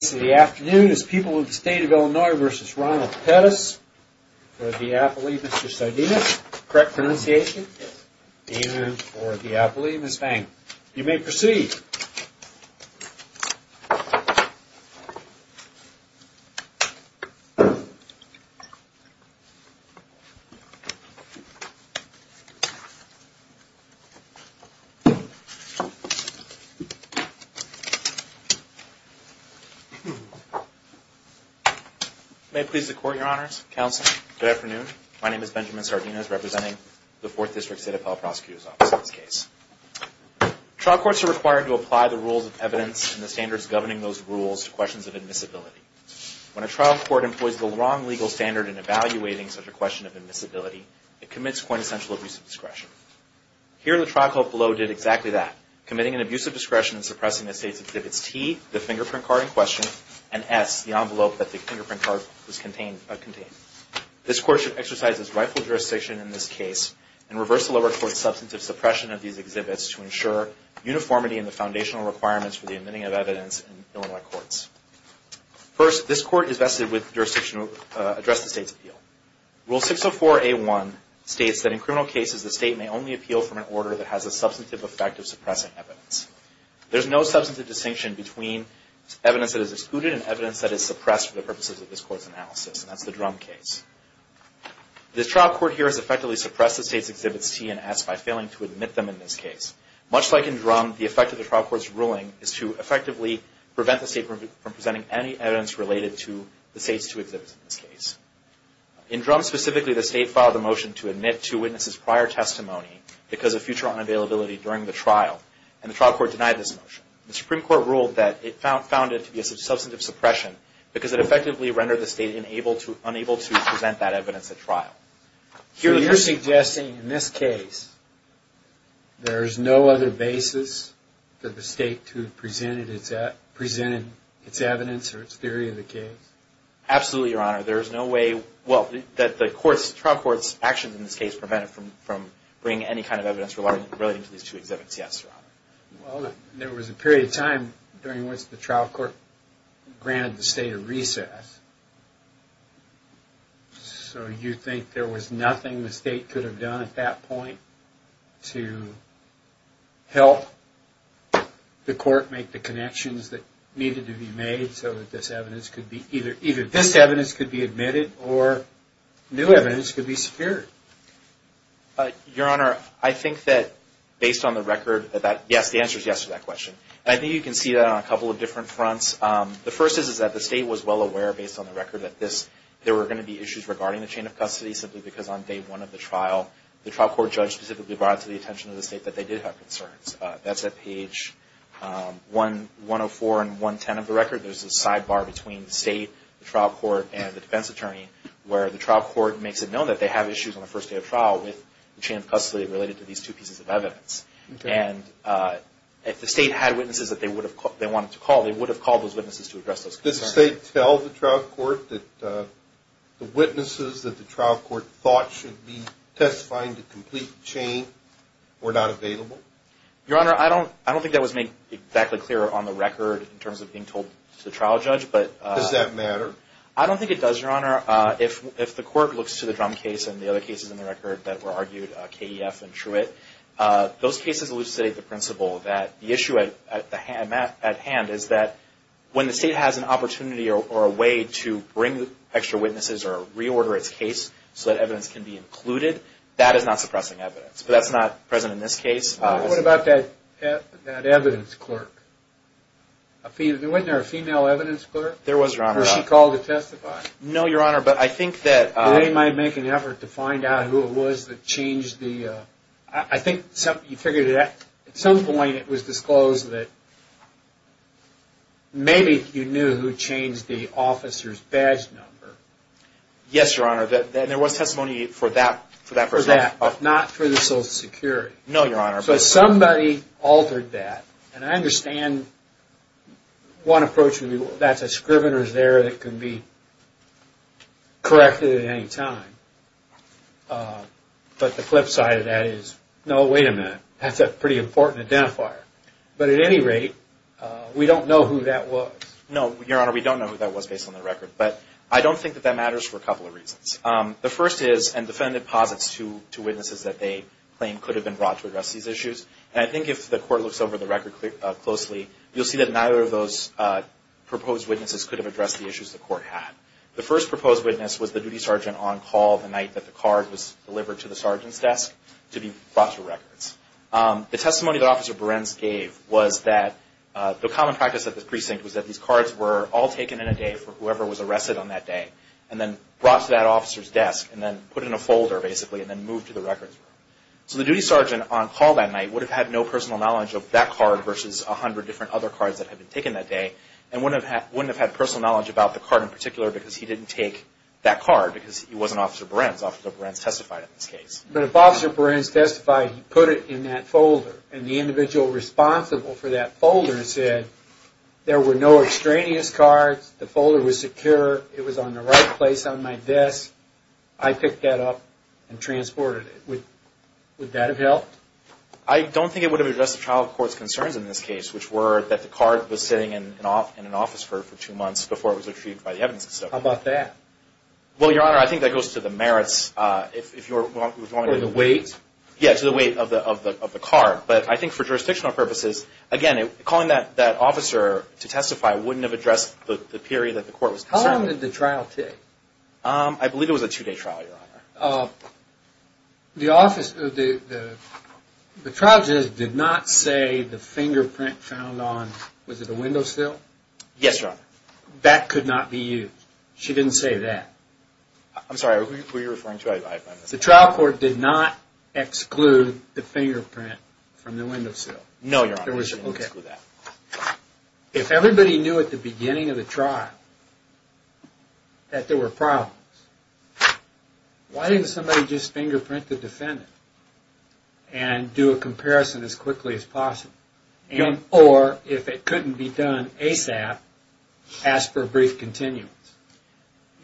This afternoon is People of the State of Illinois v. Ronald Pettis, for Diapoli, Mr. Sardinus, correct pronunciation, and for Diapoli, Ms. Vang. You may proceed. May it please the Court, Your Honors, Counsel, good afternoon. My name is Benjamin Sardinus, representing the 4th District State Appellate Prosecutor's Office in this case. Trial courts are required to apply the rules of evidence and the standards governing those rules to questions of admissibility. When a trial court employs the wrong legal standard in evaluating such a question of admissibility, it commits quintessential abuse of discretion. Here, the trial court below did exactly that, committing an abuse of discretion in suppressing the State's exhibits T, the fingerprint card in question, and S, the envelope that the fingerprint card was contained in. This Court should exercise its rightful jurisdiction in this case and reverse the lower court's substantive suppression of these exhibits to ensure uniformity in the foundational requirements for the admitting of evidence in Illinois courts. First, this Court is vested with the jurisdiction to address the State's appeal. Rule 604A1 states that in criminal cases, the State may only appeal from an order that has a substantive effect of suppressing evidence. There is no substantive distinction between evidence that is excluded and evidence that is suppressed for the purposes of this Court's analysis, and that's the Drum case. This trial court here has effectively suppressed the State's exhibits T and S by failing to admit them in this case. Much like in Drum, the effect of the trial court's ruling is to effectively prevent the State from presenting any evidence related to the State's two exhibits in this case. In Drum specifically, the State filed a motion to admit two witnesses' prior testimony because of future unavailability during the trial, and the trial court denied this motion. The Supreme Court ruled that it found it to be a substantive suppression because it effectively rendered the State unable to present that evidence at trial. So you're suggesting in this case, there is no other basis for the State to have presented its evidence or its theory of the case? Absolutely, Your Honor. There is no way, well, that the trial court's actions in this case prevented from bringing any kind of evidence relating to these two exhibits, yes, Your Honor. Well, there was a period of time during which the trial court granted the State a recess, so you think there was nothing the State could have done at that point to help the court make the connections that needed to be made so that this evidence could be, either this evidence could be admitted or new evidence could be secured? Your Honor, I think that based on the record, yes, the answer is yes to that question. I think you can see that on a couple of different fronts. The first is that the State was well aware based on the record that there were going to be issues regarding the chain of custody simply because on day one of the trial, the trial court judge specifically brought it to the attention of the State that they did have concerns. That's at page 104 and 110 of the record. There's a sidebar between the State, the trial court, and the defense attorney where the trial court makes it known that they have issues on the first day of trial with the chain of custody related to these two pieces of evidence. And if the State had witnesses that they wanted to call, they would have called those witnesses to address those concerns. Did the State tell the trial court that the witnesses that the trial court thought should be testifying to complete the chain were not available? Your Honor, I don't think that was made exactly clear on the record in terms of being told to the trial judge. Does that matter? I don't think it does, Your Honor. If the court looks to the Drum case and the other cases in the record that were argued, KEF and Truett, those cases elucidate the principle that the issue at hand is that when the State has an opportunity or a way to bring extra witnesses or reorder its case so that evidence can be included, that is not suppressing evidence. But that's not present in this case. What about that evidence clerk? Wasn't there a female evidence clerk? There was, Your Honor. Was she called to testify? No, Your Honor, but I think that... They might make an effort to find out who it was that changed the... I think you figured at some point it was disclosed that maybe you knew who changed the officer's badge number. Yes, Your Honor. There was testimony for that person. For that, but not for the Social Security. No, Your Honor. So somebody altered that, and I understand one approach would be that's a scrivener's error that can be corrected at any time. But the flip side of that is, no, wait a minute, that's a pretty important identifier. But at any rate, we don't know who that was. No, Your Honor, we don't know who that was based on the record. But I don't think that that matters for a couple of reasons. The first is, and the defendant posits to witnesses that they claim could have been brought to address these issues. And I think if the court looks over the record closely, you'll see that neither of those proposed witnesses could have addressed the issues the court had. The first proposed witness was the duty sergeant on call the night that the card was delivered to the sergeant's desk to be brought to records. The testimony that Officer Behrens gave was that the common practice at the precinct was that these cards were all taken in a day for whoever was arrested on that day and then brought to that officer's desk and then put in a folder, basically, and then moved to the records room. So the duty sergeant on call that night would have had no personal knowledge of that card versus 100 different other cards that had been taken that day and wouldn't have had personal knowledge about the card in particular because he didn't take that card because he wasn't Officer Behrens. Officer Behrens testified in this case. But if Officer Behrens testified, he put it in that folder, and the individual responsible for that folder said there were no extraneous cards, the folder was secure, it was on the right place on my desk, I picked that up and transported it. Would that have helped? I don't think it would have addressed the trial court's concerns in this case, which were that the card was sitting in an office for two months before it was retrieved by the evidence. How about that? Well, Your Honor, I think that goes to the merits. Or the weight? Yeah, to the weight of the card. But I think for jurisdictional purposes, again, calling that officer to testify wouldn't have addressed the period that the court was concerned. How long did the trial take? I believe it was a two-day trial, Your Honor. The trial judge did not say the fingerprint found on, was it a window sill? Yes, Your Honor. That could not be used. She didn't say that. I'm sorry, who are you referring to? The trial court did not exclude the fingerprint from the window sill. No, Your Honor, they didn't exclude that. If everybody knew at the beginning of the trial that there were problems, why didn't somebody just fingerprint the defendant and do a comparison as quickly as possible? Or, if it couldn't be done ASAP, ask for a brief continuance?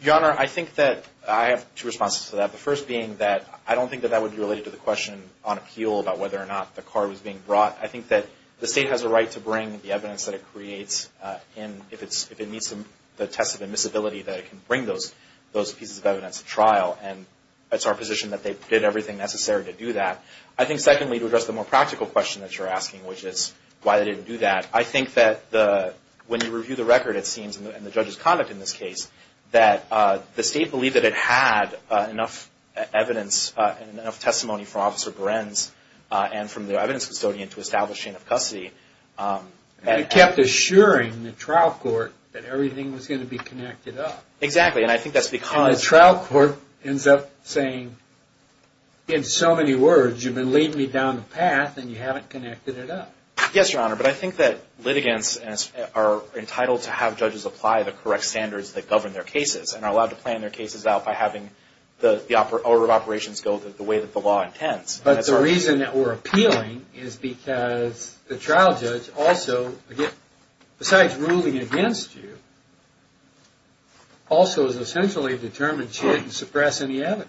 Your Honor, I think that I have two responses to that. The first being that I don't think that that would be related to the question on appeal about whether or not the card was being brought. I think that the State has a right to bring the evidence that it creates, and if it meets the test of admissibility, that it can bring those pieces of evidence to trial. And it's our position that they did everything necessary to do that. I think, secondly, to address the more practical question that you're asking, which is why they didn't do that, I think that when you review the record, it seems, and the judge's conduct in this case, that the State believed that it had enough evidence and enough testimony from Officer Behrens and from the evidence custodian to establish chain of custody. And it kept assuring the trial court that everything was going to be connected up. Exactly, and I think that's because... And the trial court ends up saying, in so many words, you've been leading me down the path and you haven't connected it up. Yes, Your Honor, but I think that litigants are entitled to have judges apply the correct standards that govern their cases and are allowed to plan their cases out by having the order of operations go the way that the law intends. But the reason that we're appealing is because the trial judge also, besides ruling against you, also has essentially determined she didn't suppress any evidence.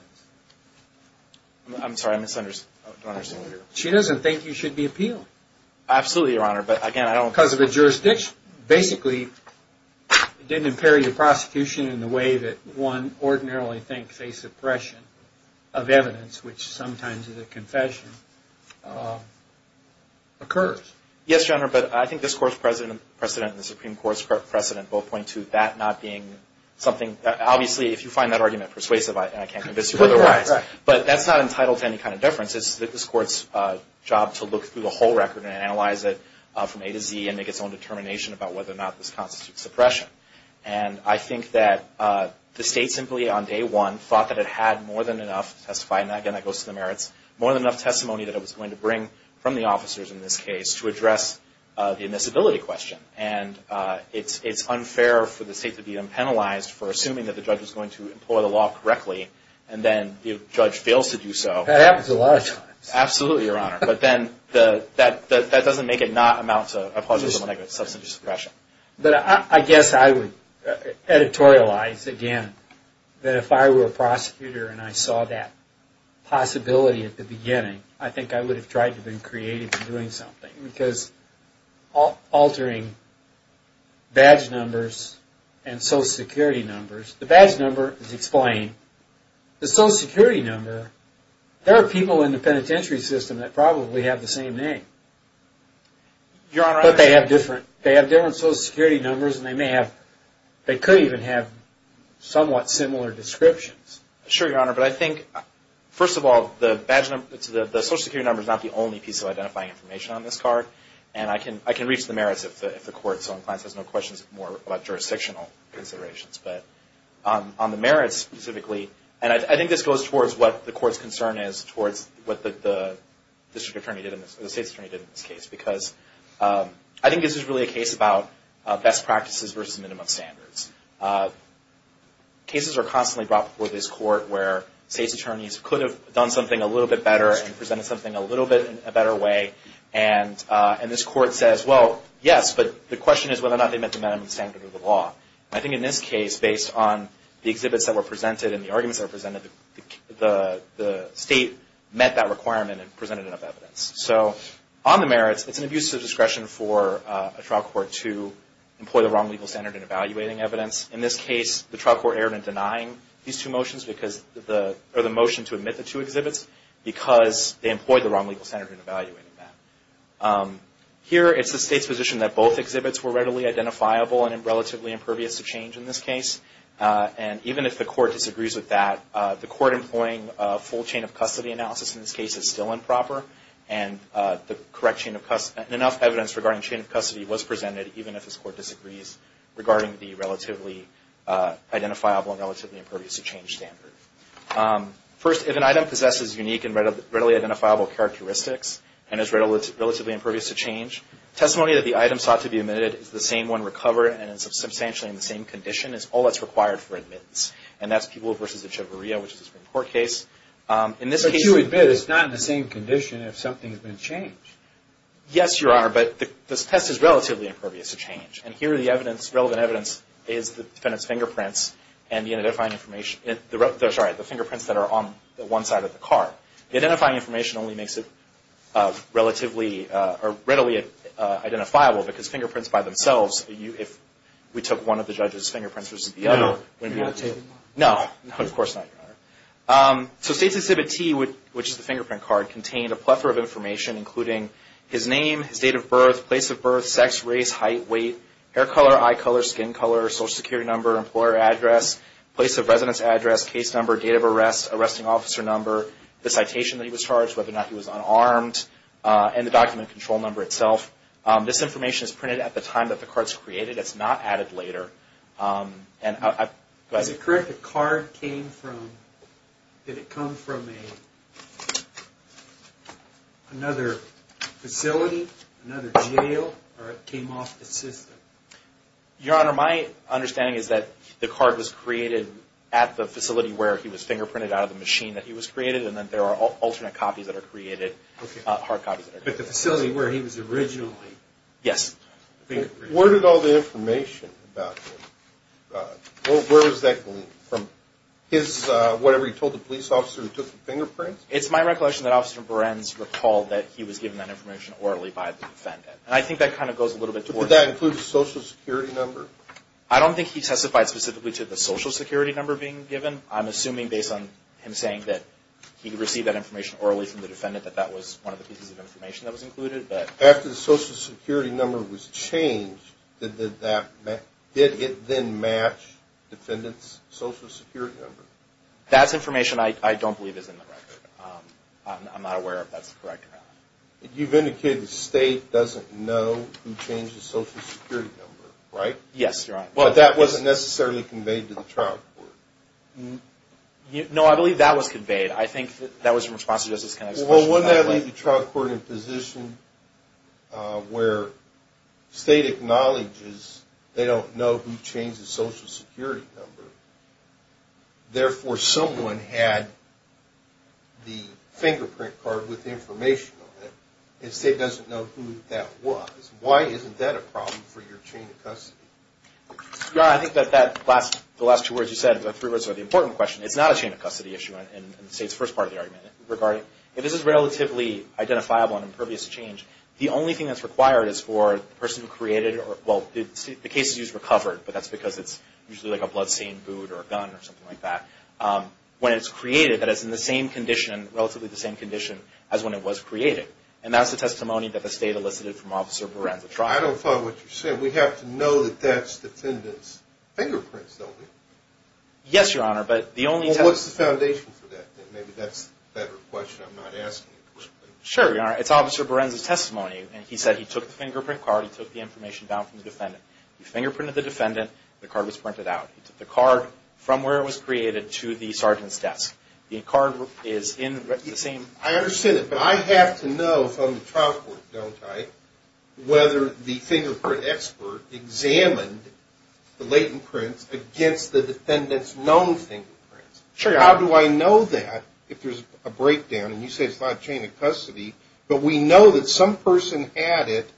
I'm sorry, I misunderstood. She doesn't think you should be appealed. Absolutely, Your Honor, but again, I don't... Because of the jurisdiction. Basically, it didn't impair your prosecution in the way that one ordinarily thinks a suppression of evidence, which sometimes is a confession, occurs. Yes, Your Honor, but I think this Court's precedent and the Supreme Court's precedent both point to that not being something... Obviously, if you find that argument persuasive, I can't convince you otherwise. But that's not entitled to any kind of deference. It's this Court's job to look through the whole record and analyze it from A to Z and make its own determination about whether or not this constitutes suppression. And I think that the State simply, on day one, thought that it had more than enough to testify, and again, that goes to the merits, more than enough testimony that it was going to bring from the officers in this case to address the admissibility question. And it's unfair for the State to be unpenalized for assuming that the judge was going to employ the law correctly and then the judge fails to do so. That happens a lot of times. Absolutely, Your Honor. But then that doesn't make it not amount to a positive or negative substantive suppression. But I guess I would editorialize, again, that if I were a prosecutor and I saw that possibility at the beginning, I think I would have tried to have been creative in doing something. Because altering badge numbers and Social Security numbers, the badge number is explained. The Social Security number, there are people in the penitentiary system that probably have the same name. But they have different Social Security numbers and they may have, they could even have somewhat similar descriptions. Sure, Your Honor. But I think, first of all, the badge number, the Social Security number, is not the only piece of identifying information on this card. And I can reach the merits if the Court so inclined has no questions more about jurisdictional considerations. But on the merits specifically, and I think this goes towards what the Court's concern is, towards what the District Attorney did in this, the State's Attorney did in this case. Because I think this is really a case about best practices versus minimum standards. Cases are constantly brought before this Court where State's Attorneys could have done something a little bit better and presented something a little bit in a better way. And this Court says, well, yes, but the question is whether or not they met the minimum standard of the law. I think in this case, based on the exhibits that were presented and the arguments that were presented, the State met that requirement and presented enough evidence. So on the merits, it's an abuse of discretion for a trial court to employ the wrong legal standard in evaluating evidence. In this case, the trial court erred in denying these two motions, or the motion to omit the two exhibits because they employed the wrong legal standard in evaluating them. Here, it's the State's position that both exhibits were readily identifiable and relatively impervious to change in this case. And even if the Court disagrees with that, the Court employing a full chain of custody analysis in this case is still improper. And enough evidence regarding chain of custody was presented, even if this Court disagrees, regarding the relatively identifiable and relatively impervious to change standard. First, if an item possesses unique and readily identifiable characteristics and is relatively impervious to change, testimony that the item sought to be omitted is the same when recovered and is substantially in the same condition is all that's required for admittance. And that's Peeble v. Echevarria, which is a Supreme Court case. But you admit it's not in the same condition if something's been changed. Yes, Your Honor, but this test is relatively impervious to change. And here the evidence, relevant evidence, is the defendant's fingerprints and the identifying information. Sorry, the fingerprints that are on one side of the card. The identifying information only makes it relatively or readily identifiable because fingerprints by themselves, if we took one of the judge's fingerprints versus the other. No. No, of course not, Your Honor. So State's Exhibit T, which is the fingerprint card, contained a plethora of information including his name, his date of birth, place of birth, sex, race, height, weight, hair color, eye color, skin color, Social Security number, employer address, place of residence address, case number, date of arrest, arresting officer number, the citation that he was charged, whether or not he was unarmed, and the document control number itself. This information is printed at the time that the card's created. It's not added later. Is it correct the card came from, did it come from another facility, another jail, or it came off the system? Your Honor, my understanding is that the card was created at the facility where he was fingerprinted out of the machine that he was created, and then there are alternate copies that are created, hard copies. But the facility where he was originally. Yes. Where did all the information about him, where was that from? His, whatever he told the police officer who took the fingerprints? It's my recollection that Officer Berens recalled that he was given that information orally by the defendant. And I think that kind of goes a little bit toward. Did that include the Social Security number? I don't think he testified specifically to the Social Security number being given. I'm assuming based on him saying that he received that information orally from the defendant, that that was one of the pieces of information that was included. After the Social Security number was changed, did it then match the defendant's Social Security number? That's information I don't believe is in the record. I'm not aware if that's correct or not. You've indicated the State doesn't know who changed the Social Security number, right? Yes, Your Honor. But that wasn't necessarily conveyed to the trial court. No, I believe that was conveyed. I think that was in response to Justice Kennedy's question. So wouldn't that leave the trial court in a position where State acknowledges they don't know who changed the Social Security number, therefore someone had the fingerprint card with information on it, and State doesn't know who that was? Why isn't that a problem for your chain of custody? Your Honor, I think that the last two words you said, the three words, are the important question. It's not a chain of custody issue in the State's first part of the argument. This is relatively identifiable and impervious to change. The only thing that's required is for the person who created, well, the case is used for covered, but that's because it's usually like a bloodstained boot or a gun or something like that. When it's created, that it's in the same condition, relatively the same condition, as when it was created. And that's the testimony that the State elicited from Officer Baranza-Trott. I don't follow what you're saying. We have to know that that's the defendant's fingerprints, don't we? Yes, Your Honor, but the only test... What's the foundation for that? Maybe that's a better question. I'm not asking it. Sure, Your Honor. It's Officer Baranza's testimony, and he said he took the fingerprint card. He took the information down from the defendant. He fingerprinted the defendant. The card was printed out. He took the card from where it was created to the sergeant's desk. The card is in the same... I understand it, but I have to know from the trial court, don't I, whether the fingerprint expert examined the latent prints against the defendant's known fingerprints. Sure, Your Honor. How do I know that if there's a breakdown, and you say it's not a chain of custody, but we know that some person had it,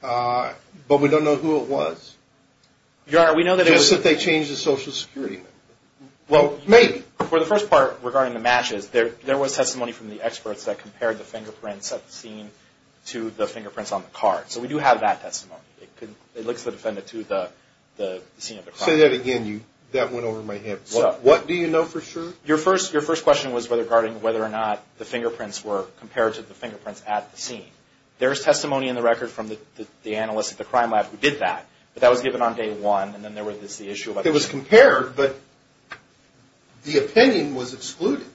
but we don't know who it was. Your Honor, we know that it was... Just that they changed the Social Security number. Well, maybe. For the first part, regarding the matches, there was testimony from the experts that compared the fingerprints at the scene to the fingerprints on the card, so we do have that testimony. It looks to the defendant to the scene of the crime. Say that again. That went over my head. What do you know for sure? Your first question was regarding whether or not the fingerprints were compared to the fingerprints at the scene. There's testimony in the record from the analyst at the crime lab who did that, but that was given on day one, and then there was the issue of... It was compared, but the opinion was excluded,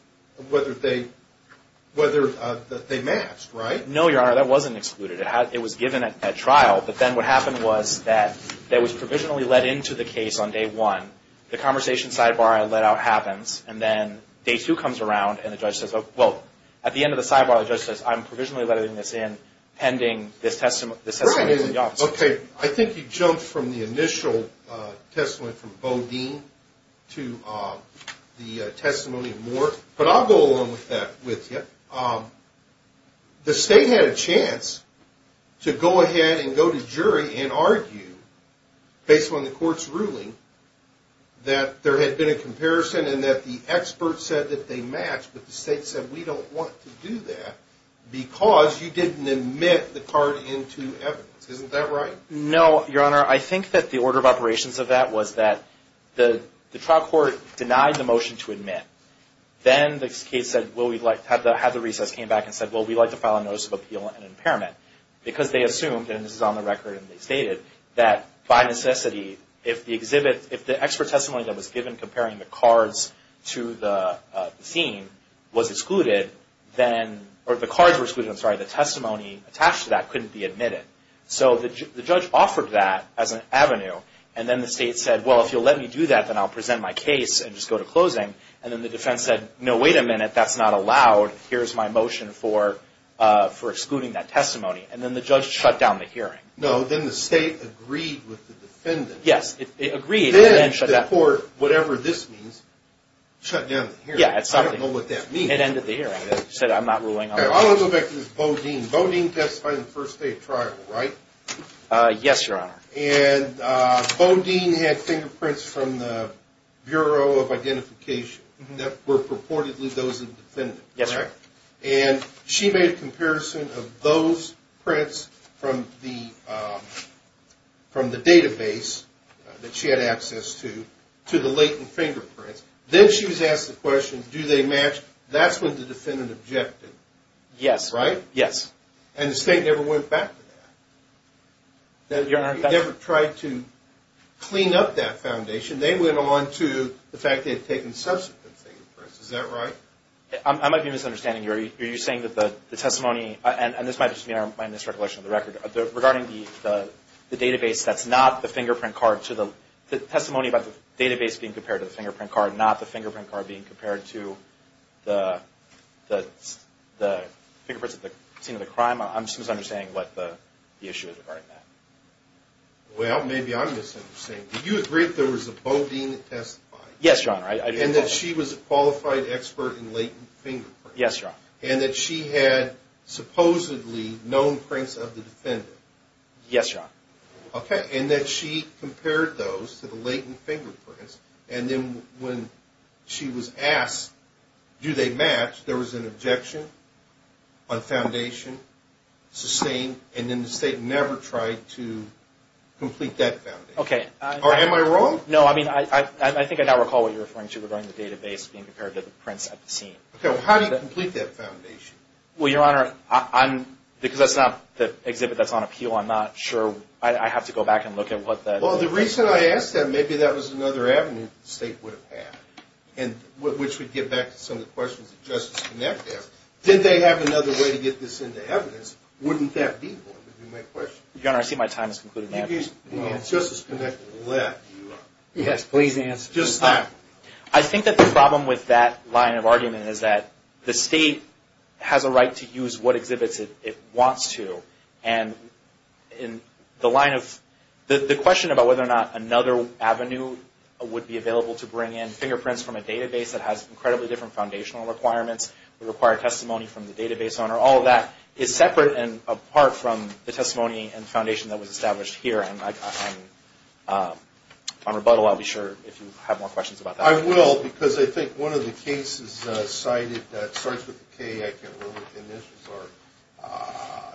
whether they matched, right? No, Your Honor, that wasn't excluded. It was given at trial, but then what happened was that it was provisionally let into the case on day one. The conversation sidebar I let out happens, and then day two comes around, and the judge says, well, at the end of the sidebar, the judge says, I'm provisionally letting this in pending this testimony from the officer. Okay, I think you jumped from the initial testimony from Bodine to the testimony of Moore, but I'll go along with that with you. The state had a chance to go ahead and go to jury and argue, based on the court's ruling, that there had been a comparison and that the expert said that they matched, but the state said, we don't want to do that because you didn't admit the card into evidence. Isn't that right? No, Your Honor. I think that the order of operations of that was that the trial court denied the motion to admit. Then the case said, well, we'd like to have the recess came back and said, well, we'd like to file a notice of appeal and impairment, because they assumed, and this is on the record and they stated, that by necessity, if the exhibit, if the expert testimony that was given comparing the cards to the scene was excluded, or the cards were excluded, I'm sorry, the testimony attached to that couldn't be admitted. So the judge offered that as an avenue, and then the state said, well, if you'll let me do that, then I'll present my case and just go to closing. And then the defense said, no, wait a minute. That's not allowed. Here's my motion for excluding that testimony. And then the judge shut down the hearing. No, then the state agreed with the defendant. Yes, it agreed. Then the court, whatever this means, shut down the hearing. I don't know what that means. It ended the hearing. It said, I'm not ruling on that. I want to go back to this Bodine. Bodine testified in the first day of trial, right? Yes, Your Honor. And Bodine had fingerprints from the Bureau of Identification that were purportedly those of the defendant. Yes, sir. And she made a comparison of those prints from the database that she had access to, to the latent fingerprints. Then she was asked the question, do they match? That's when the defendant objected. Yes. Right? Yes. And the state never went back to that. Your Honor. They never tried to clean up that foundation. They went on to the fact they had taken subsequent fingerprints. Is that right? I might be misunderstanding you. Are you saying that the testimony, and this might just be my misrecollection of the record, regarding the database that's not the fingerprint card to the, the testimony about the database being compared to the fingerprint card, not the fingerprint card being compared to the fingerprints at the scene of the crime? I'm just misunderstanding what the issue is regarding that. Well, maybe I'm misunderstanding. Did you agree that there was a Bodine that testified? Yes, Your Honor. Yes, Your Honor. And that she had supposedly known prints of the defendant? Yes, Your Honor. Okay. And that she compared those to the latent fingerprints, and then when she was asked, do they match, there was an objection on foundation, sustained, and then the state never tried to complete that foundation. Okay. Or am I wrong? No, I mean, I think I now recall what you're referring to regarding the database being compared to the prints at the scene. Okay. Well, how do you complete that foundation? Well, Your Honor, I'm, because that's not the exhibit that's on appeal, I'm not sure. I have to go back and look at what that is. Well, the reason I asked that, maybe that was another avenue the state would have had, which would get back to some of the questions that Justice Connect asked. Did they have another way to get this into evidence? Wouldn't that be one, would be my question. Your Honor, I see my time has concluded now. Justice Connect let you. Yes, please answer. Just time. I think that the problem with that line of argument is that the state has a right to use what exhibits it wants to, and in the line of, the question about whether or not another avenue would be available to bring in fingerprints from a database that has incredibly different foundational requirements, would require testimony from the database owner, all of that is separate and apart from the testimony and foundation that was established here. On rebuttal, I'll be sure if you have more questions about that. I will, because I think one of the cases cited that starts with a K, I can't remember what the initials are,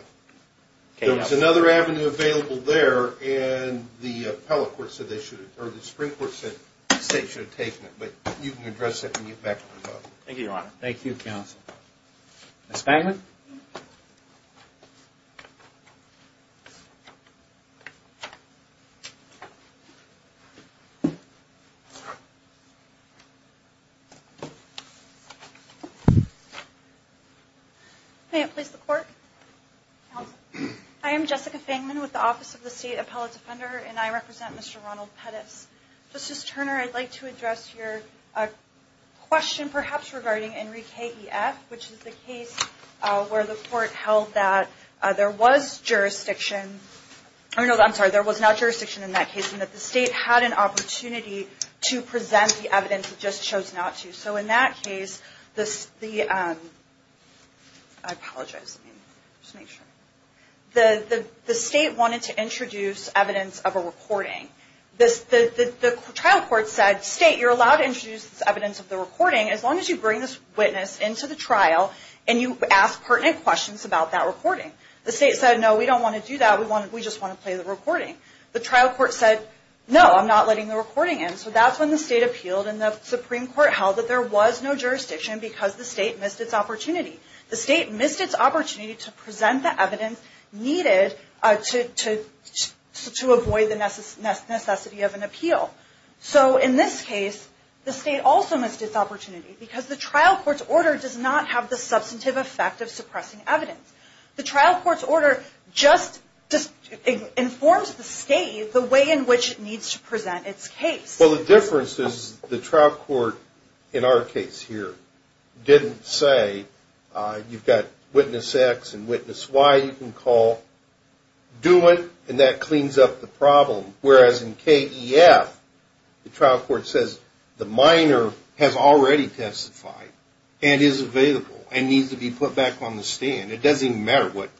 there was another avenue available there and the appellate court said they should have, or the Supreme Court said the state should have taken it, but you can address it when you get back to rebuttal. Thank you, Your Honor. Thank you, counsel. Ms. Bangman. I am Jessica Bangman with the Office of the State Appellate Defender, and I represent Mr. Ronald Pettis. Justice Turner, I'd like to address your question, perhaps, regarding Enrique E. F., which is the case where the court held that there was jurisdiction, was not jurisdiction in that case, and that the state had an opportunity to present the evidence, it just chose not to. So in that case, the state wanted to introduce evidence of a recording. The trial court said, state, you're allowed to introduce evidence of the recording as long as you bring this witness into the trial and you ask pertinent questions about that recording. The state said, no, we don't want to do that, we just want to play the recording. The trial court said, no, I'm not letting the recording in. So that's when the state appealed, and the Supreme Court held that there was no jurisdiction because the state missed its opportunity. The state missed its opportunity to present the evidence needed to avoid the necessity of an appeal. So in this case, the state also missed its opportunity because the trial court's order does not have the substantive effect of suppressing evidence. The trial court's order just informs the state the way in which it needs to present its case. Well, the difference is the trial court in our case here didn't say, you've got witness X and witness Y, you can call, do it, and that cleans up the problem. Whereas in KEF, the trial court says the minor has already testified and is available and needs to be put back on the stand. It doesn't even matter what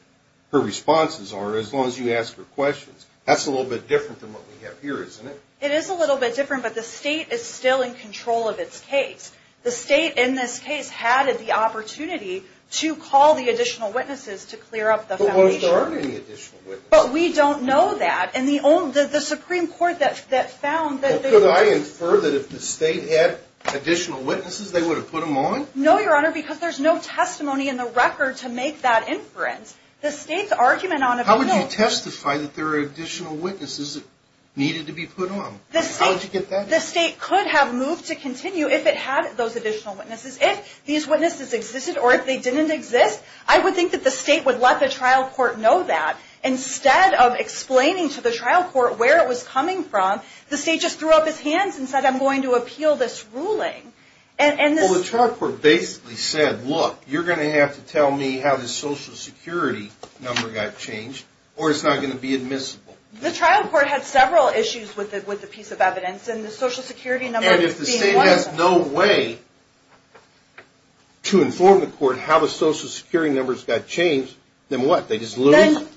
her responses are, as long as you ask her questions. That's a little bit different than what we have here, isn't it? It is a little bit different, but the state is still in control of its case. The state in this case had the opportunity to call the additional witnesses to clear up the foundation. But weren't there any additional witnesses? But we don't know that. And the Supreme Court that found that they were. Well, could I infer that if the state had additional witnesses, they would have put them on? No, Your Honor, because there's no testimony in the record to make that inference. How would you testify that there are additional witnesses that needed to be put on? How did you get that? The state could have moved to continue if it had those additional witnesses. If these witnesses existed or if they didn't exist, I would think that the state would let the trial court know that. Instead of explaining to the trial court where it was coming from, the state just threw up its hands and said, I'm going to appeal this ruling. Well, the trial court basically said, look, you're going to have to tell me how this Social Security number got changed or it's not going to be admissible. The trial court had several issues with the piece of evidence and the Social Security number being one of them. And if the state has no way to inform the court how the Social Security numbers got changed, then what? They just lose? Then,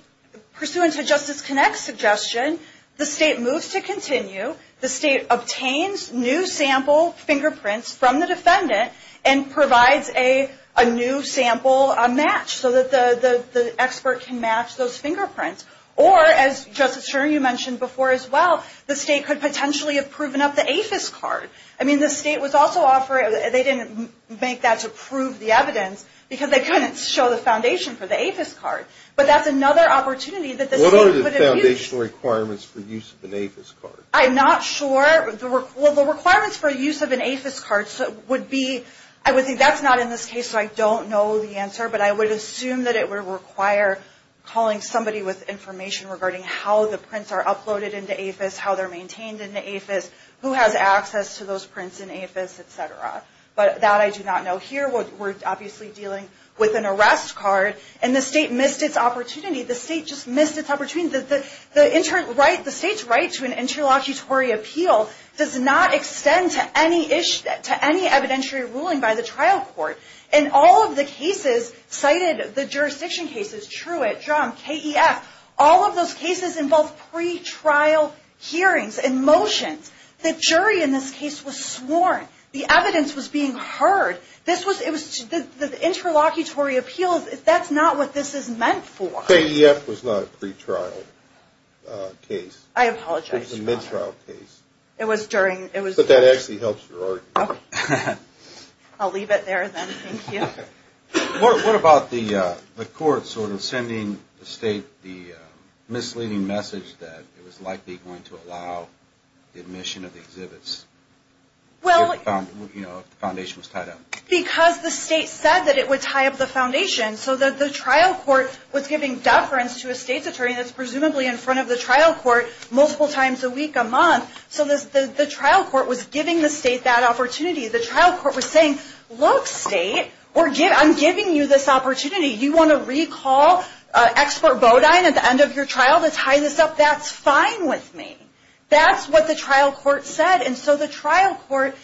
pursuant to Justice Connect's suggestion, the state moves to continue. The state obtains new sample fingerprints from the defendant and provides a new sample match so that the expert can match those fingerprints. Or, as Justice Sherman mentioned before as well, the state could potentially have proven up the APHIS card. I mean, the state was also offering – they didn't make that to prove the evidence because they couldn't show the foundation for the APHIS card. But that's another opportunity that the state could have used. What are the foundational requirements for use of an APHIS card? I'm not sure. Well, the requirements for use of an APHIS card would be – I would think that's not in this case, so I don't know the answer. But I would assume that it would require calling somebody with information regarding how the prints are uploaded into APHIS, how they're maintained in the APHIS, who has access to those prints in APHIS, et cetera. But that I do not know. Here, we're obviously dealing with an arrest card, and the state missed its opportunity. The state just missed its opportunity. The state's right to an interlocutory appeal does not extend to any evidentiary ruling by the trial court. In all of the cases cited, the jurisdiction cases – Truitt, Drumm, KEF – all of those cases involve pre-trial hearings and motions. The jury in this case was sworn. The evidence was being heard. The interlocutory appeal, that's not what this is meant for. KEF was not a pre-trial case. I apologize. It was a mid-trial case. It was during – But that actually helps your argument. I'll leave it there, then. Thank you. What about the court sort of sending the state the misleading message that it was likely going to allow the admission of the exhibits if the foundation was tied up? Because the state said that it would tie up the foundation, so that the trial court was giving deference to a state's attorney that's presumably in front of the trial court multiple times a week, a month. So the trial court was giving the state that opportunity. The trial court was saying, Look, state, I'm giving you this opportunity. You want to recall expert bodine at the end of your trial to tie this up? That's fine with me. That's what the trial court said. And so the trial court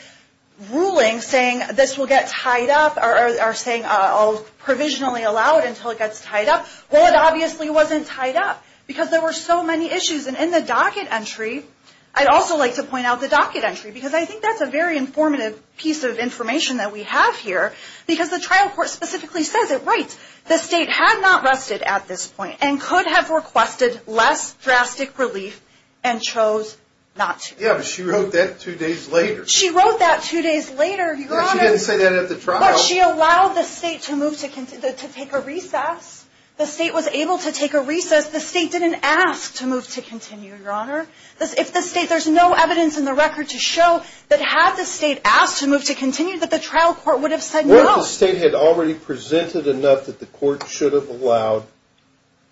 ruling saying this will get tied up or saying I'll provisionally allow it until it gets tied up. Well, it obviously wasn't tied up because there were so many issues. And in the docket entry – I'd also like to point out the docket entry because I think that's a very informative piece of information that we have here because the trial court specifically says it writes, The state had not rested at this point and could have requested less drastic relief and chose not to. Yeah, but she wrote that two days later. She wrote that two days later. Yeah, she didn't say that at the trial. But she allowed the state to take a recess. The state was able to take a recess. The state didn't ask to move to continue, Your Honor. If the state – there's no evidence in the record to show that had the state asked to move to continue, that the trial court would have said no. What if the state had already presented enough that the court should have allowed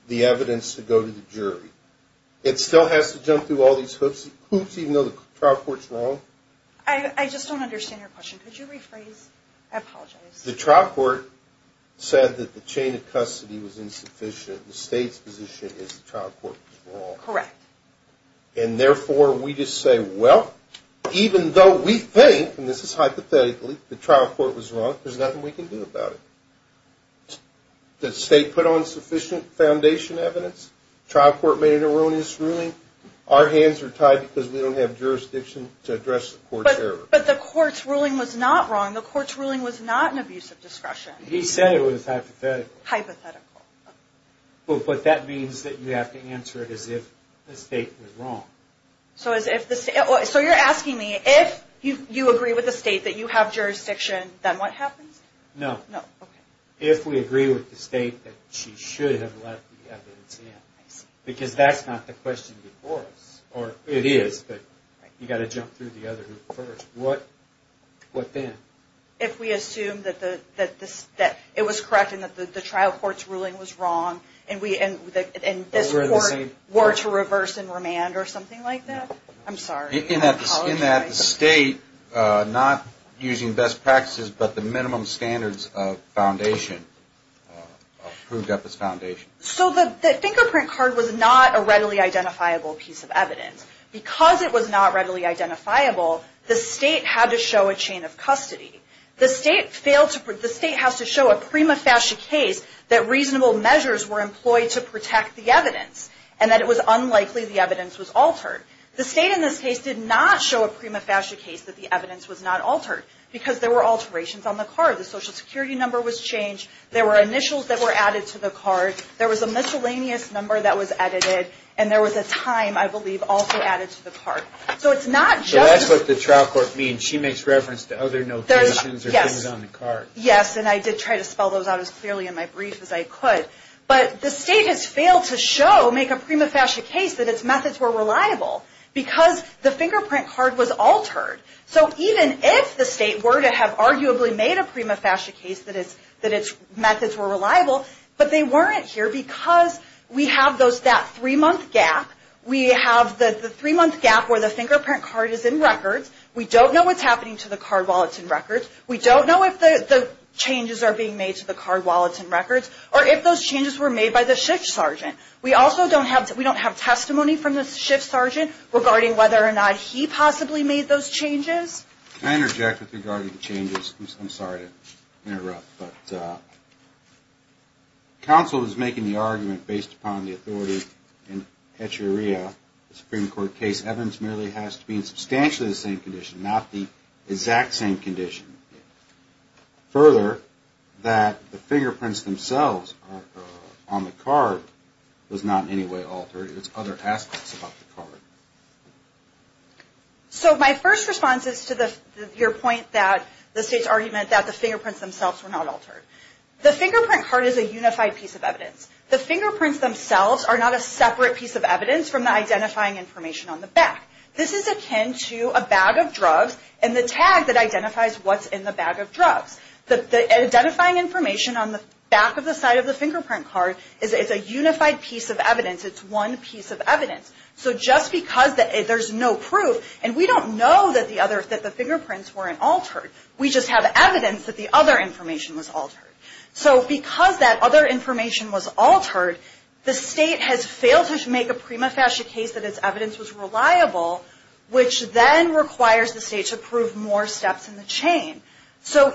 the evidence to go to the jury? It still has to jump through all these hoops even though the trial court's wrong? I just don't understand your question. Could you rephrase? I apologize. The trial court said that the chain of custody was insufficient. The state's position is the trial court was wrong. Correct. And therefore, we just say, Well, even though we think, and this is hypothetically, the trial court was wrong, there's nothing we can do about it. The state put on sufficient foundation evidence. The trial court made an erroneous ruling. Our hands are tied because we don't have jurisdiction to address the court's error. But the court's ruling was not wrong. The court's ruling was not an abuse of discretion. He said it was hypothetical. Hypothetical. But that means that you have to answer it as if the state was wrong. So you're asking me, if you agree with the state that you have jurisdiction, then what happens? No. No, okay. If we agree with the state that she should have left the evidence in. Because that's not the question before us. It is, but you've got to jump through the other hoop first. What then? If we assume that it was correct and that the trial court's ruling was wrong and this court were to reverse and remand or something like that. I'm sorry. In that the state, not using best practices, but the minimum standards of foundation, approved up as foundation. So the fingerprint card was not a readily identifiable piece of evidence. Because it was not readily identifiable, the state had to show a chain of custody. The state has to show a prima facie case that reasonable measures were employed to protect the evidence and that it was unlikely the evidence was altered. The state, in this case, did not show a prima facie case that the evidence was not altered because there were alterations on the card. The social security number was changed. There were initials that were added to the card. There was a miscellaneous number that was edited. And there was a time, I believe, also added to the card. So it's not just... So that's what the trial court means. She makes reference to other notations or things on the card. Yes, and I did try to spell those out as clearly in my brief as I could. But the state has failed to show, make a prima facie case, that its methods were reliable. Because the fingerprint card was altered. So even if the state were to have arguably made a prima facie case that its methods were reliable, but they weren't here because we have that three-month gap. We have the three-month gap where the fingerprint card is in records. We don't know what's happening to the card while it's in records. We don't know if the changes are being made to the card while it's in records or if those changes were made by the shift sergeant. We also don't have testimony from the shift sergeant regarding whether or not he possibly made those changes. Can I interject with regard to the changes? I'm sorry to interrupt, but counsel is making the argument based upon the authority in Petri Area Supreme Court case. Evidence merely has to be in substantially the same condition, not the exact same condition. Further, that the fingerprints themselves on the card was not in any way altered. It's other aspects about the card. My first response is to your point that the state's argument that the fingerprints themselves were not altered. The fingerprint card is a unified piece of evidence. The fingerprints themselves are not a separate piece of evidence from the identifying information on the back. This is akin to a bag of drugs and the tag that identifies what's in the bag of drugs. The identifying information on the back of the side of the fingerprint card is a unified piece of evidence. It's one piece of evidence. Just because there's no proof, and we don't know that the fingerprints weren't altered, we just have evidence that the other information was altered. Because that other information was altered, the state has failed to make a prima facie case that its evidence was reliable, which then requires the state to prove more steps in the chain.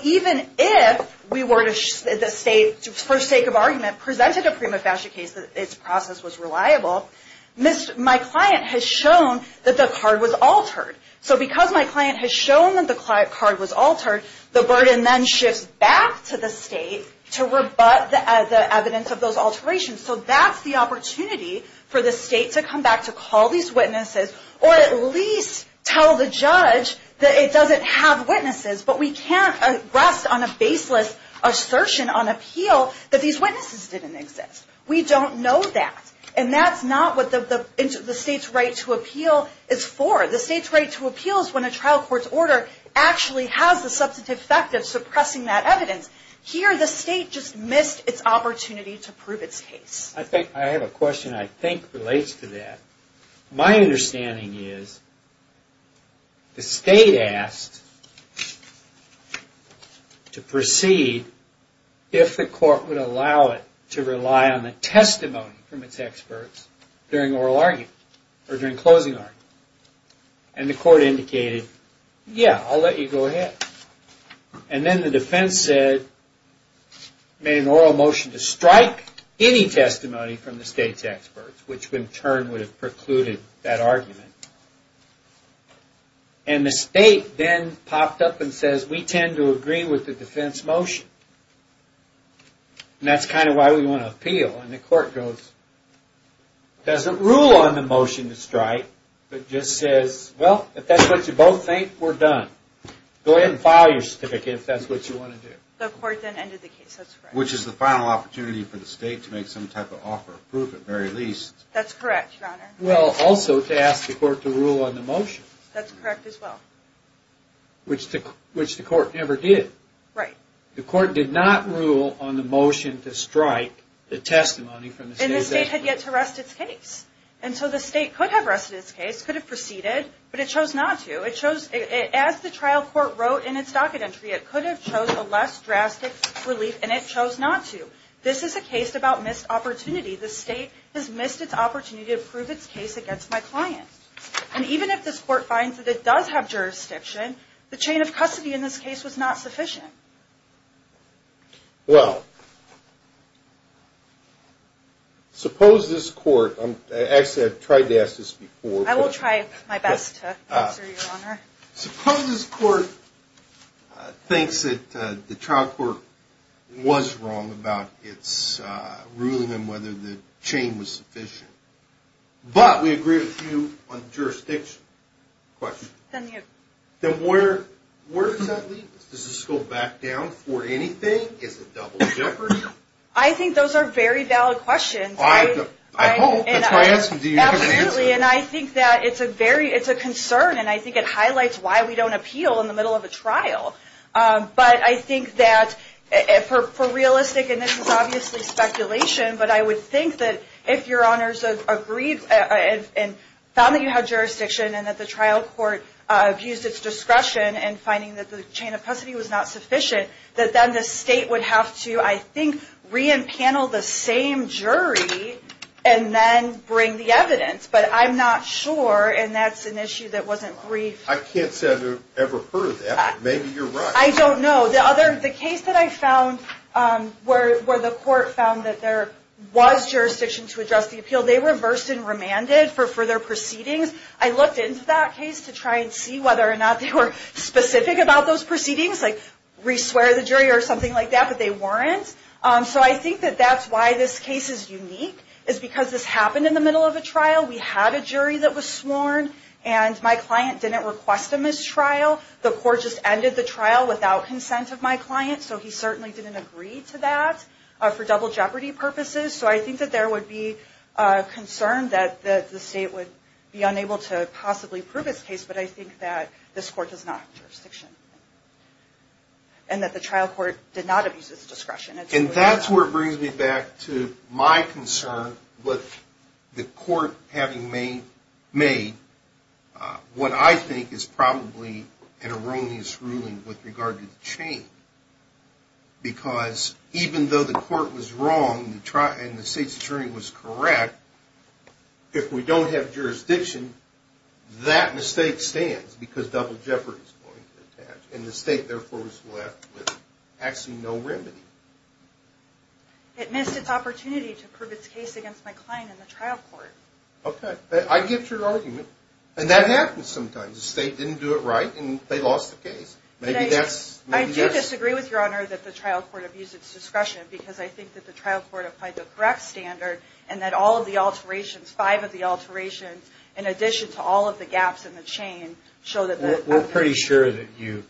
Even if the state, for sake of argument, presented a prima facie case that its process was reliable, my client has shown that the card was altered. So because my client has shown that the card was altered, the burden then shifts back to the state to rebut the evidence of those alterations. So that's the opportunity for the state to come back to call these witnesses, or at least tell the judge that it doesn't have witnesses, but we can't rest on a baseless assertion on appeal that these witnesses didn't exist. We don't know that. And that's not what the state's right to appeal is for. The state's right to appeal is when a trial court's order actually has the substantive effect of suppressing that evidence. Here the state just missed its opportunity to prove its case. I have a question that I think relates to that. My understanding is the state asked to proceed if the court would allow it to rely on the testimony from its experts during oral argument, or during closing argument. And the court indicated, yeah, I'll let you go ahead. And then the defense said, made an oral motion to strike any testimony from the state's experts, which in turn would have precluded that argument. And the state then popped up and says, we tend to agree with the defense motion. And that's kind of why we want to appeal. And the court goes, doesn't rule on the motion to strike, but just says, well, if that's what you both think, we're done. Go ahead and file your certificate if that's what you want to do. The court then ended the case, that's correct. Which is the final opportunity for the state to make some type of offer of proof, at the very least. That's correct, Your Honor. Well, also to ask the court to rule on the motion. That's correct as well. Which the court never did. Right. The court did not rule on the motion to strike the testimony from the state's experts. And the state had yet to rest its case. And so the state could have rested its case, could have proceeded, but it chose not to. As the trial court wrote in its docket entry, it could have chosen a less drastic relief, and it chose not to. This is a case about missed opportunity. The state has missed its opportunity to prove its case against my client. And even if this court finds that it does have jurisdiction, the chain of custody in this case was not sufficient. Well, suppose this court, actually I've tried to ask this before. I will try my best to answer, Your Honor. Suppose this court thinks that the trial court was wrong about its ruling on whether the chain was sufficient. But we agree with you on jurisdiction. Then where does that leave us? Does this go back down for anything? Is it double jeopardy? I think those are very valid questions. I hope. That's why I asked them. Do you have an answer? Absolutely. And I think that it's a concern, and I think it highlights why we don't appeal in the middle of a trial. But I think that for realistic, and this is obviously speculation, but I would think that if Your Honors agreed and found that you had jurisdiction and that the trial court abused its discretion in finding that the chain of custody was not sufficient, that then the state would have to, I think, re-empanel the same jury and then bring the evidence. But I'm not sure, and that's an issue that wasn't briefed. I can't say I've ever heard of that. Maybe you're right. I don't know. The case that I found where the court found that there was jurisdiction to address the appeal, they reversed and remanded for further proceedings. I looked into that case to try and see whether or not they were specific about those proceedings, like re-swear the jury or something like that, but they weren't. So I think that that's why this case is unique, is because this happened in the middle of a trial. We had a jury that was sworn, and my client didn't request a mistrial. The court just ended the trial without consent of my client, so he certainly didn't agree to that for double jeopardy purposes. So I think that there would be concern that the state would be unable to possibly prove its case, but I think that this court does not have jurisdiction and that the trial court did not abuse its discretion. And that's where it brings me back to my concern with the court having made what I think is probably an erroneous ruling with regard to the chain, because even though the court was wrong and the state's jury was correct, if we don't have jurisdiction, that mistake stands, because double jeopardy is going to attach, and the state therefore is left with actually no remedy. It missed its opportunity to prove its case against my client in the trial court. Okay. I get your argument. And that happens sometimes. The state didn't do it right, and they lost the case. I do disagree with Your Honor that the trial court abused its discretion, because I think that the trial court applied the correct standard and that all of the alterations, five of the alterations, in addition to all of the gaps in the chain, show that the- We're pretty sure that you-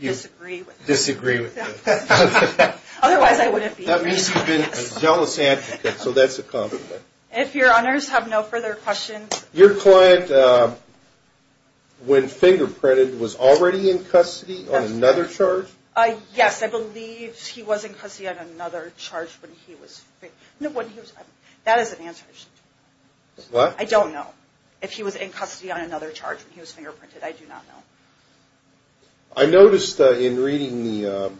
Disagree with it. Disagree with it. Otherwise I wouldn't be here. That means you've been a jealous advocate, so that's a common thing. If Your Honors have no further questions- Your client, when fingerprinted, was already in custody on another charge? Yes, I believe he was in custody on another charge when he was- That is an answer. What? I don't know if he was in custody on another charge when he was fingerprinted. I do not know. I noticed in reading the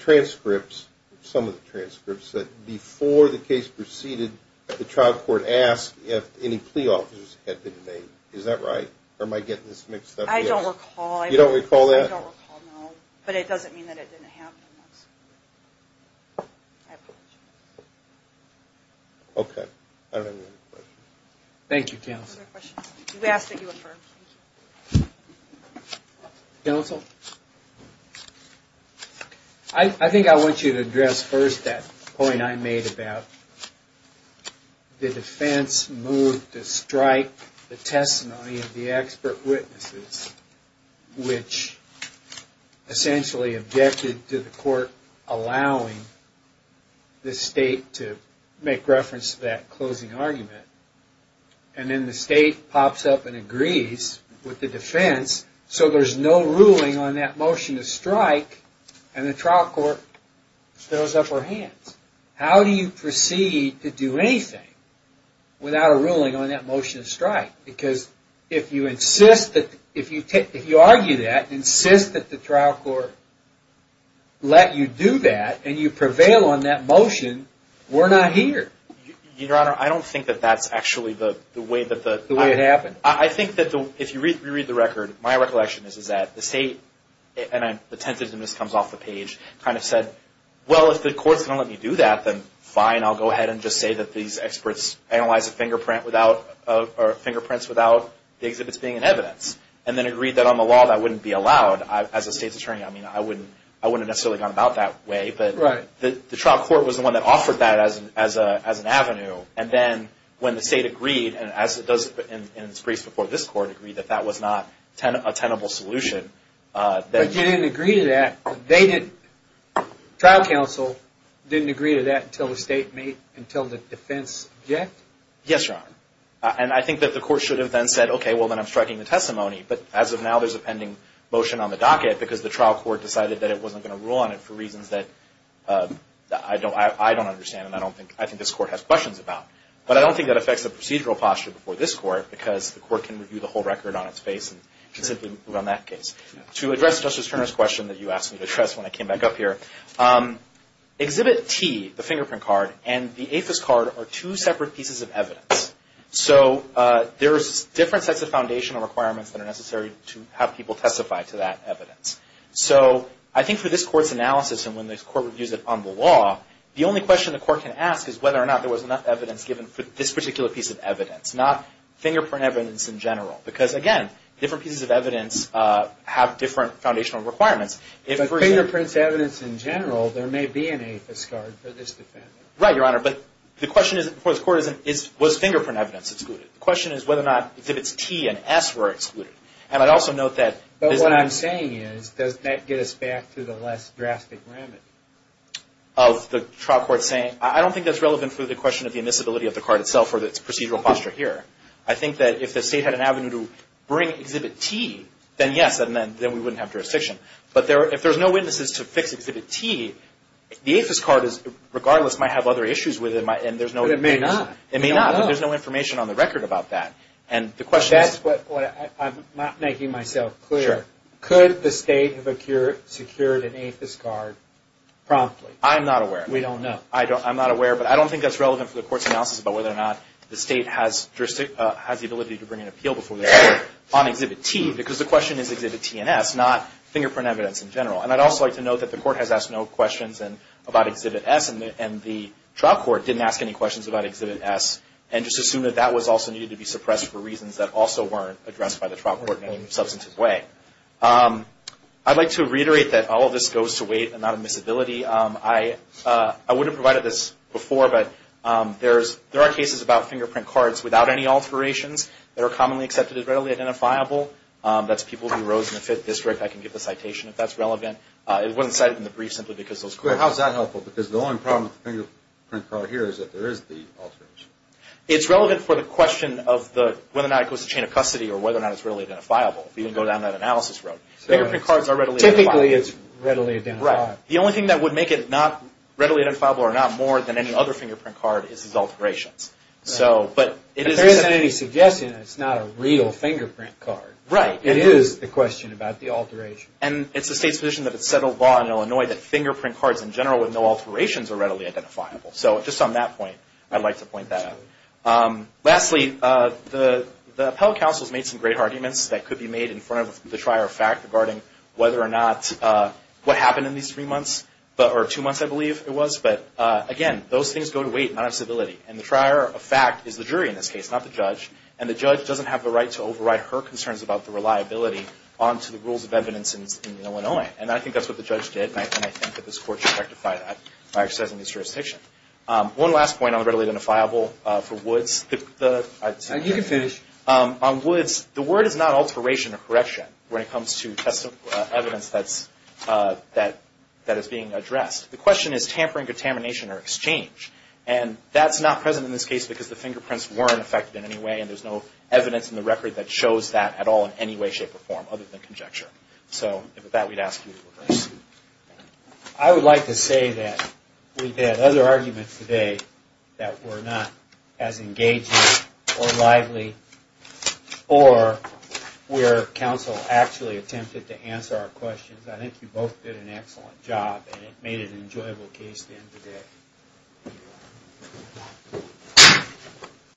transcripts, some of the transcripts, that before the case proceeded, the trial court asked if any plea offers had been made. Is that right? Or am I getting this mixed up? I don't recall. You don't recall that? I don't recall, no. But it doesn't mean that it didn't happen once. I apologize. Okay. I don't have any other questions. Thank you, counsel. No further questions. We ask that you affirm. Thank you. Counsel? Counsel? I think I want you to address first that point I made about the defense moved to strike the testimony of the expert witnesses, which essentially objected to the court allowing the state to make reference to that closing argument. And then the state pops up and agrees with the defense, so there's no ruling on that motion to strike, and the trial court throws up her hands. How do you proceed to do anything without a ruling on that motion to strike? Because if you insist that, if you argue that, insist that the trial court let you do that, and you prevail on that motion, we're not here. Your Honor, I don't think that that's actually the way that the – The way it happened. I think that if you reread the record, my recollection is that the state, and the tentativeness comes off the page, kind of said, well, if the court's going to let me do that, then fine, I'll go ahead and just say that these experts analyzed the fingerprints without the exhibits being in evidence, and then agreed that on the law that wouldn't be allowed. As a state's attorney, I mean, I wouldn't have necessarily gone about that way. Right. But the trial court was the one that offered that as an avenue, and then when the state agreed, and as it does in its briefs before this court, agreed that that was not a tenable solution. But you didn't agree to that. They didn't. Trial counsel didn't agree to that until the defense objected? Yes, Your Honor. And I think that the court should have then said, okay, well, then I'm striking the testimony. But as of now, there's a pending motion on the docket because the trial court decided that it wasn't going to rule on it for reasons that I don't understand and I think this court has questions about. But I don't think that affects the procedural posture before this court, because the court can review the whole record on its face and simply move on that case. To address Justice Turner's question that you asked me to address when I came back up here, Exhibit T, the fingerprint card, and the APHIS card are two separate pieces of evidence. So there's different sets of foundational requirements that are necessary to have people testify to that evidence. So I think for this court's analysis and when this court reviews it on the law, the only question the court can ask is whether or not there was enough evidence given for this particular piece of evidence, not fingerprint evidence in general. Because, again, different pieces of evidence have different foundational requirements. But fingerprints evidence in general, there may be an APHIS card for this defendant. Right, Your Honor. But the question before this court is, was fingerprint evidence excluded? The question is whether or not Exhibits T and S were excluded. But what I'm saying is, does that get us back to the less drastic remedy of the trial court saying, I don't think that's relevant to the question of the admissibility of the card itself or its procedural posture here. I think that if the State had an avenue to bring Exhibit T, then yes, then we wouldn't have jurisdiction. But if there's no witnesses to fix Exhibit T, the APHIS card, regardless, might have other issues with it. But it may not. It may not. But there's no information on the record about that. That's what I'm not making myself clear. Could the State have secured an APHIS card promptly? I'm not aware. We don't know. I'm not aware. But I don't think that's relevant for the Court's analysis about whether or not the State has the ability to bring an appeal before this Court on Exhibit T, because the question is Exhibit T and S, not fingerprint evidence in general. And I'd also like to note that the Court has asked no questions about Exhibit S, and the trial court didn't ask any questions about Exhibit S, and just assumed that that was also needed to be suppressed for reasons that also weren't addressed by the trial court in any substantive way. I'd like to reiterate that all of this goes to weight and not admissibility. I would have provided this before, but there are cases about fingerprint cards without any alterations that are commonly accepted as readily identifiable. That's people who rose in the 5th District. I can give the citation if that's relevant. It wasn't cited in the brief simply because those courts... It's relevant for the question of whether or not it goes to chain of custody or whether or not it's readily identifiable. We can go down that analysis road. Fingerprint cards are readily identifiable. Typically, it's readily identifiable. Right. The only thing that would make it not readily identifiable or not more than any other fingerprint card is its alterations. There isn't any suggestion that it's not a real fingerprint card. Right. It is the question about the alteration. And it's the State's position that it's settled law in Illinois that fingerprint cards in general with no alterations are readily identifiable. So just on that point, I'd like to point that out. Lastly, the appellate counsel has made some great arguments that could be made in front of the trier of fact regarding whether or not what happened in these three months or two months, I believe it was. But, again, those things go to weight, not on civility. And the trier of fact is the jury in this case, not the judge. And the judge doesn't have the right to override her concerns about the reliability onto the rules of evidence in Illinois. And I think that's what the judge did. And I think that this Court should rectify that by exercising this jurisdiction. One last point on the readily identifiable for Woods. You can finish. On Woods, the word is not alteration or correction when it comes to evidence that is being addressed. The question is tampering, contamination, or exchange. And that's not present in this case because the fingerprints weren't affected in any way, and there's no evidence in the record that shows that at all in any way, shape, or form other than conjecture. So with that, we'd ask you to reverse. I would like to say that we've had other arguments today that were not as engaging or lively or where counsel actually attempted to answer our questions. I think you both did an excellent job, and it made it an enjoyable case to end the day.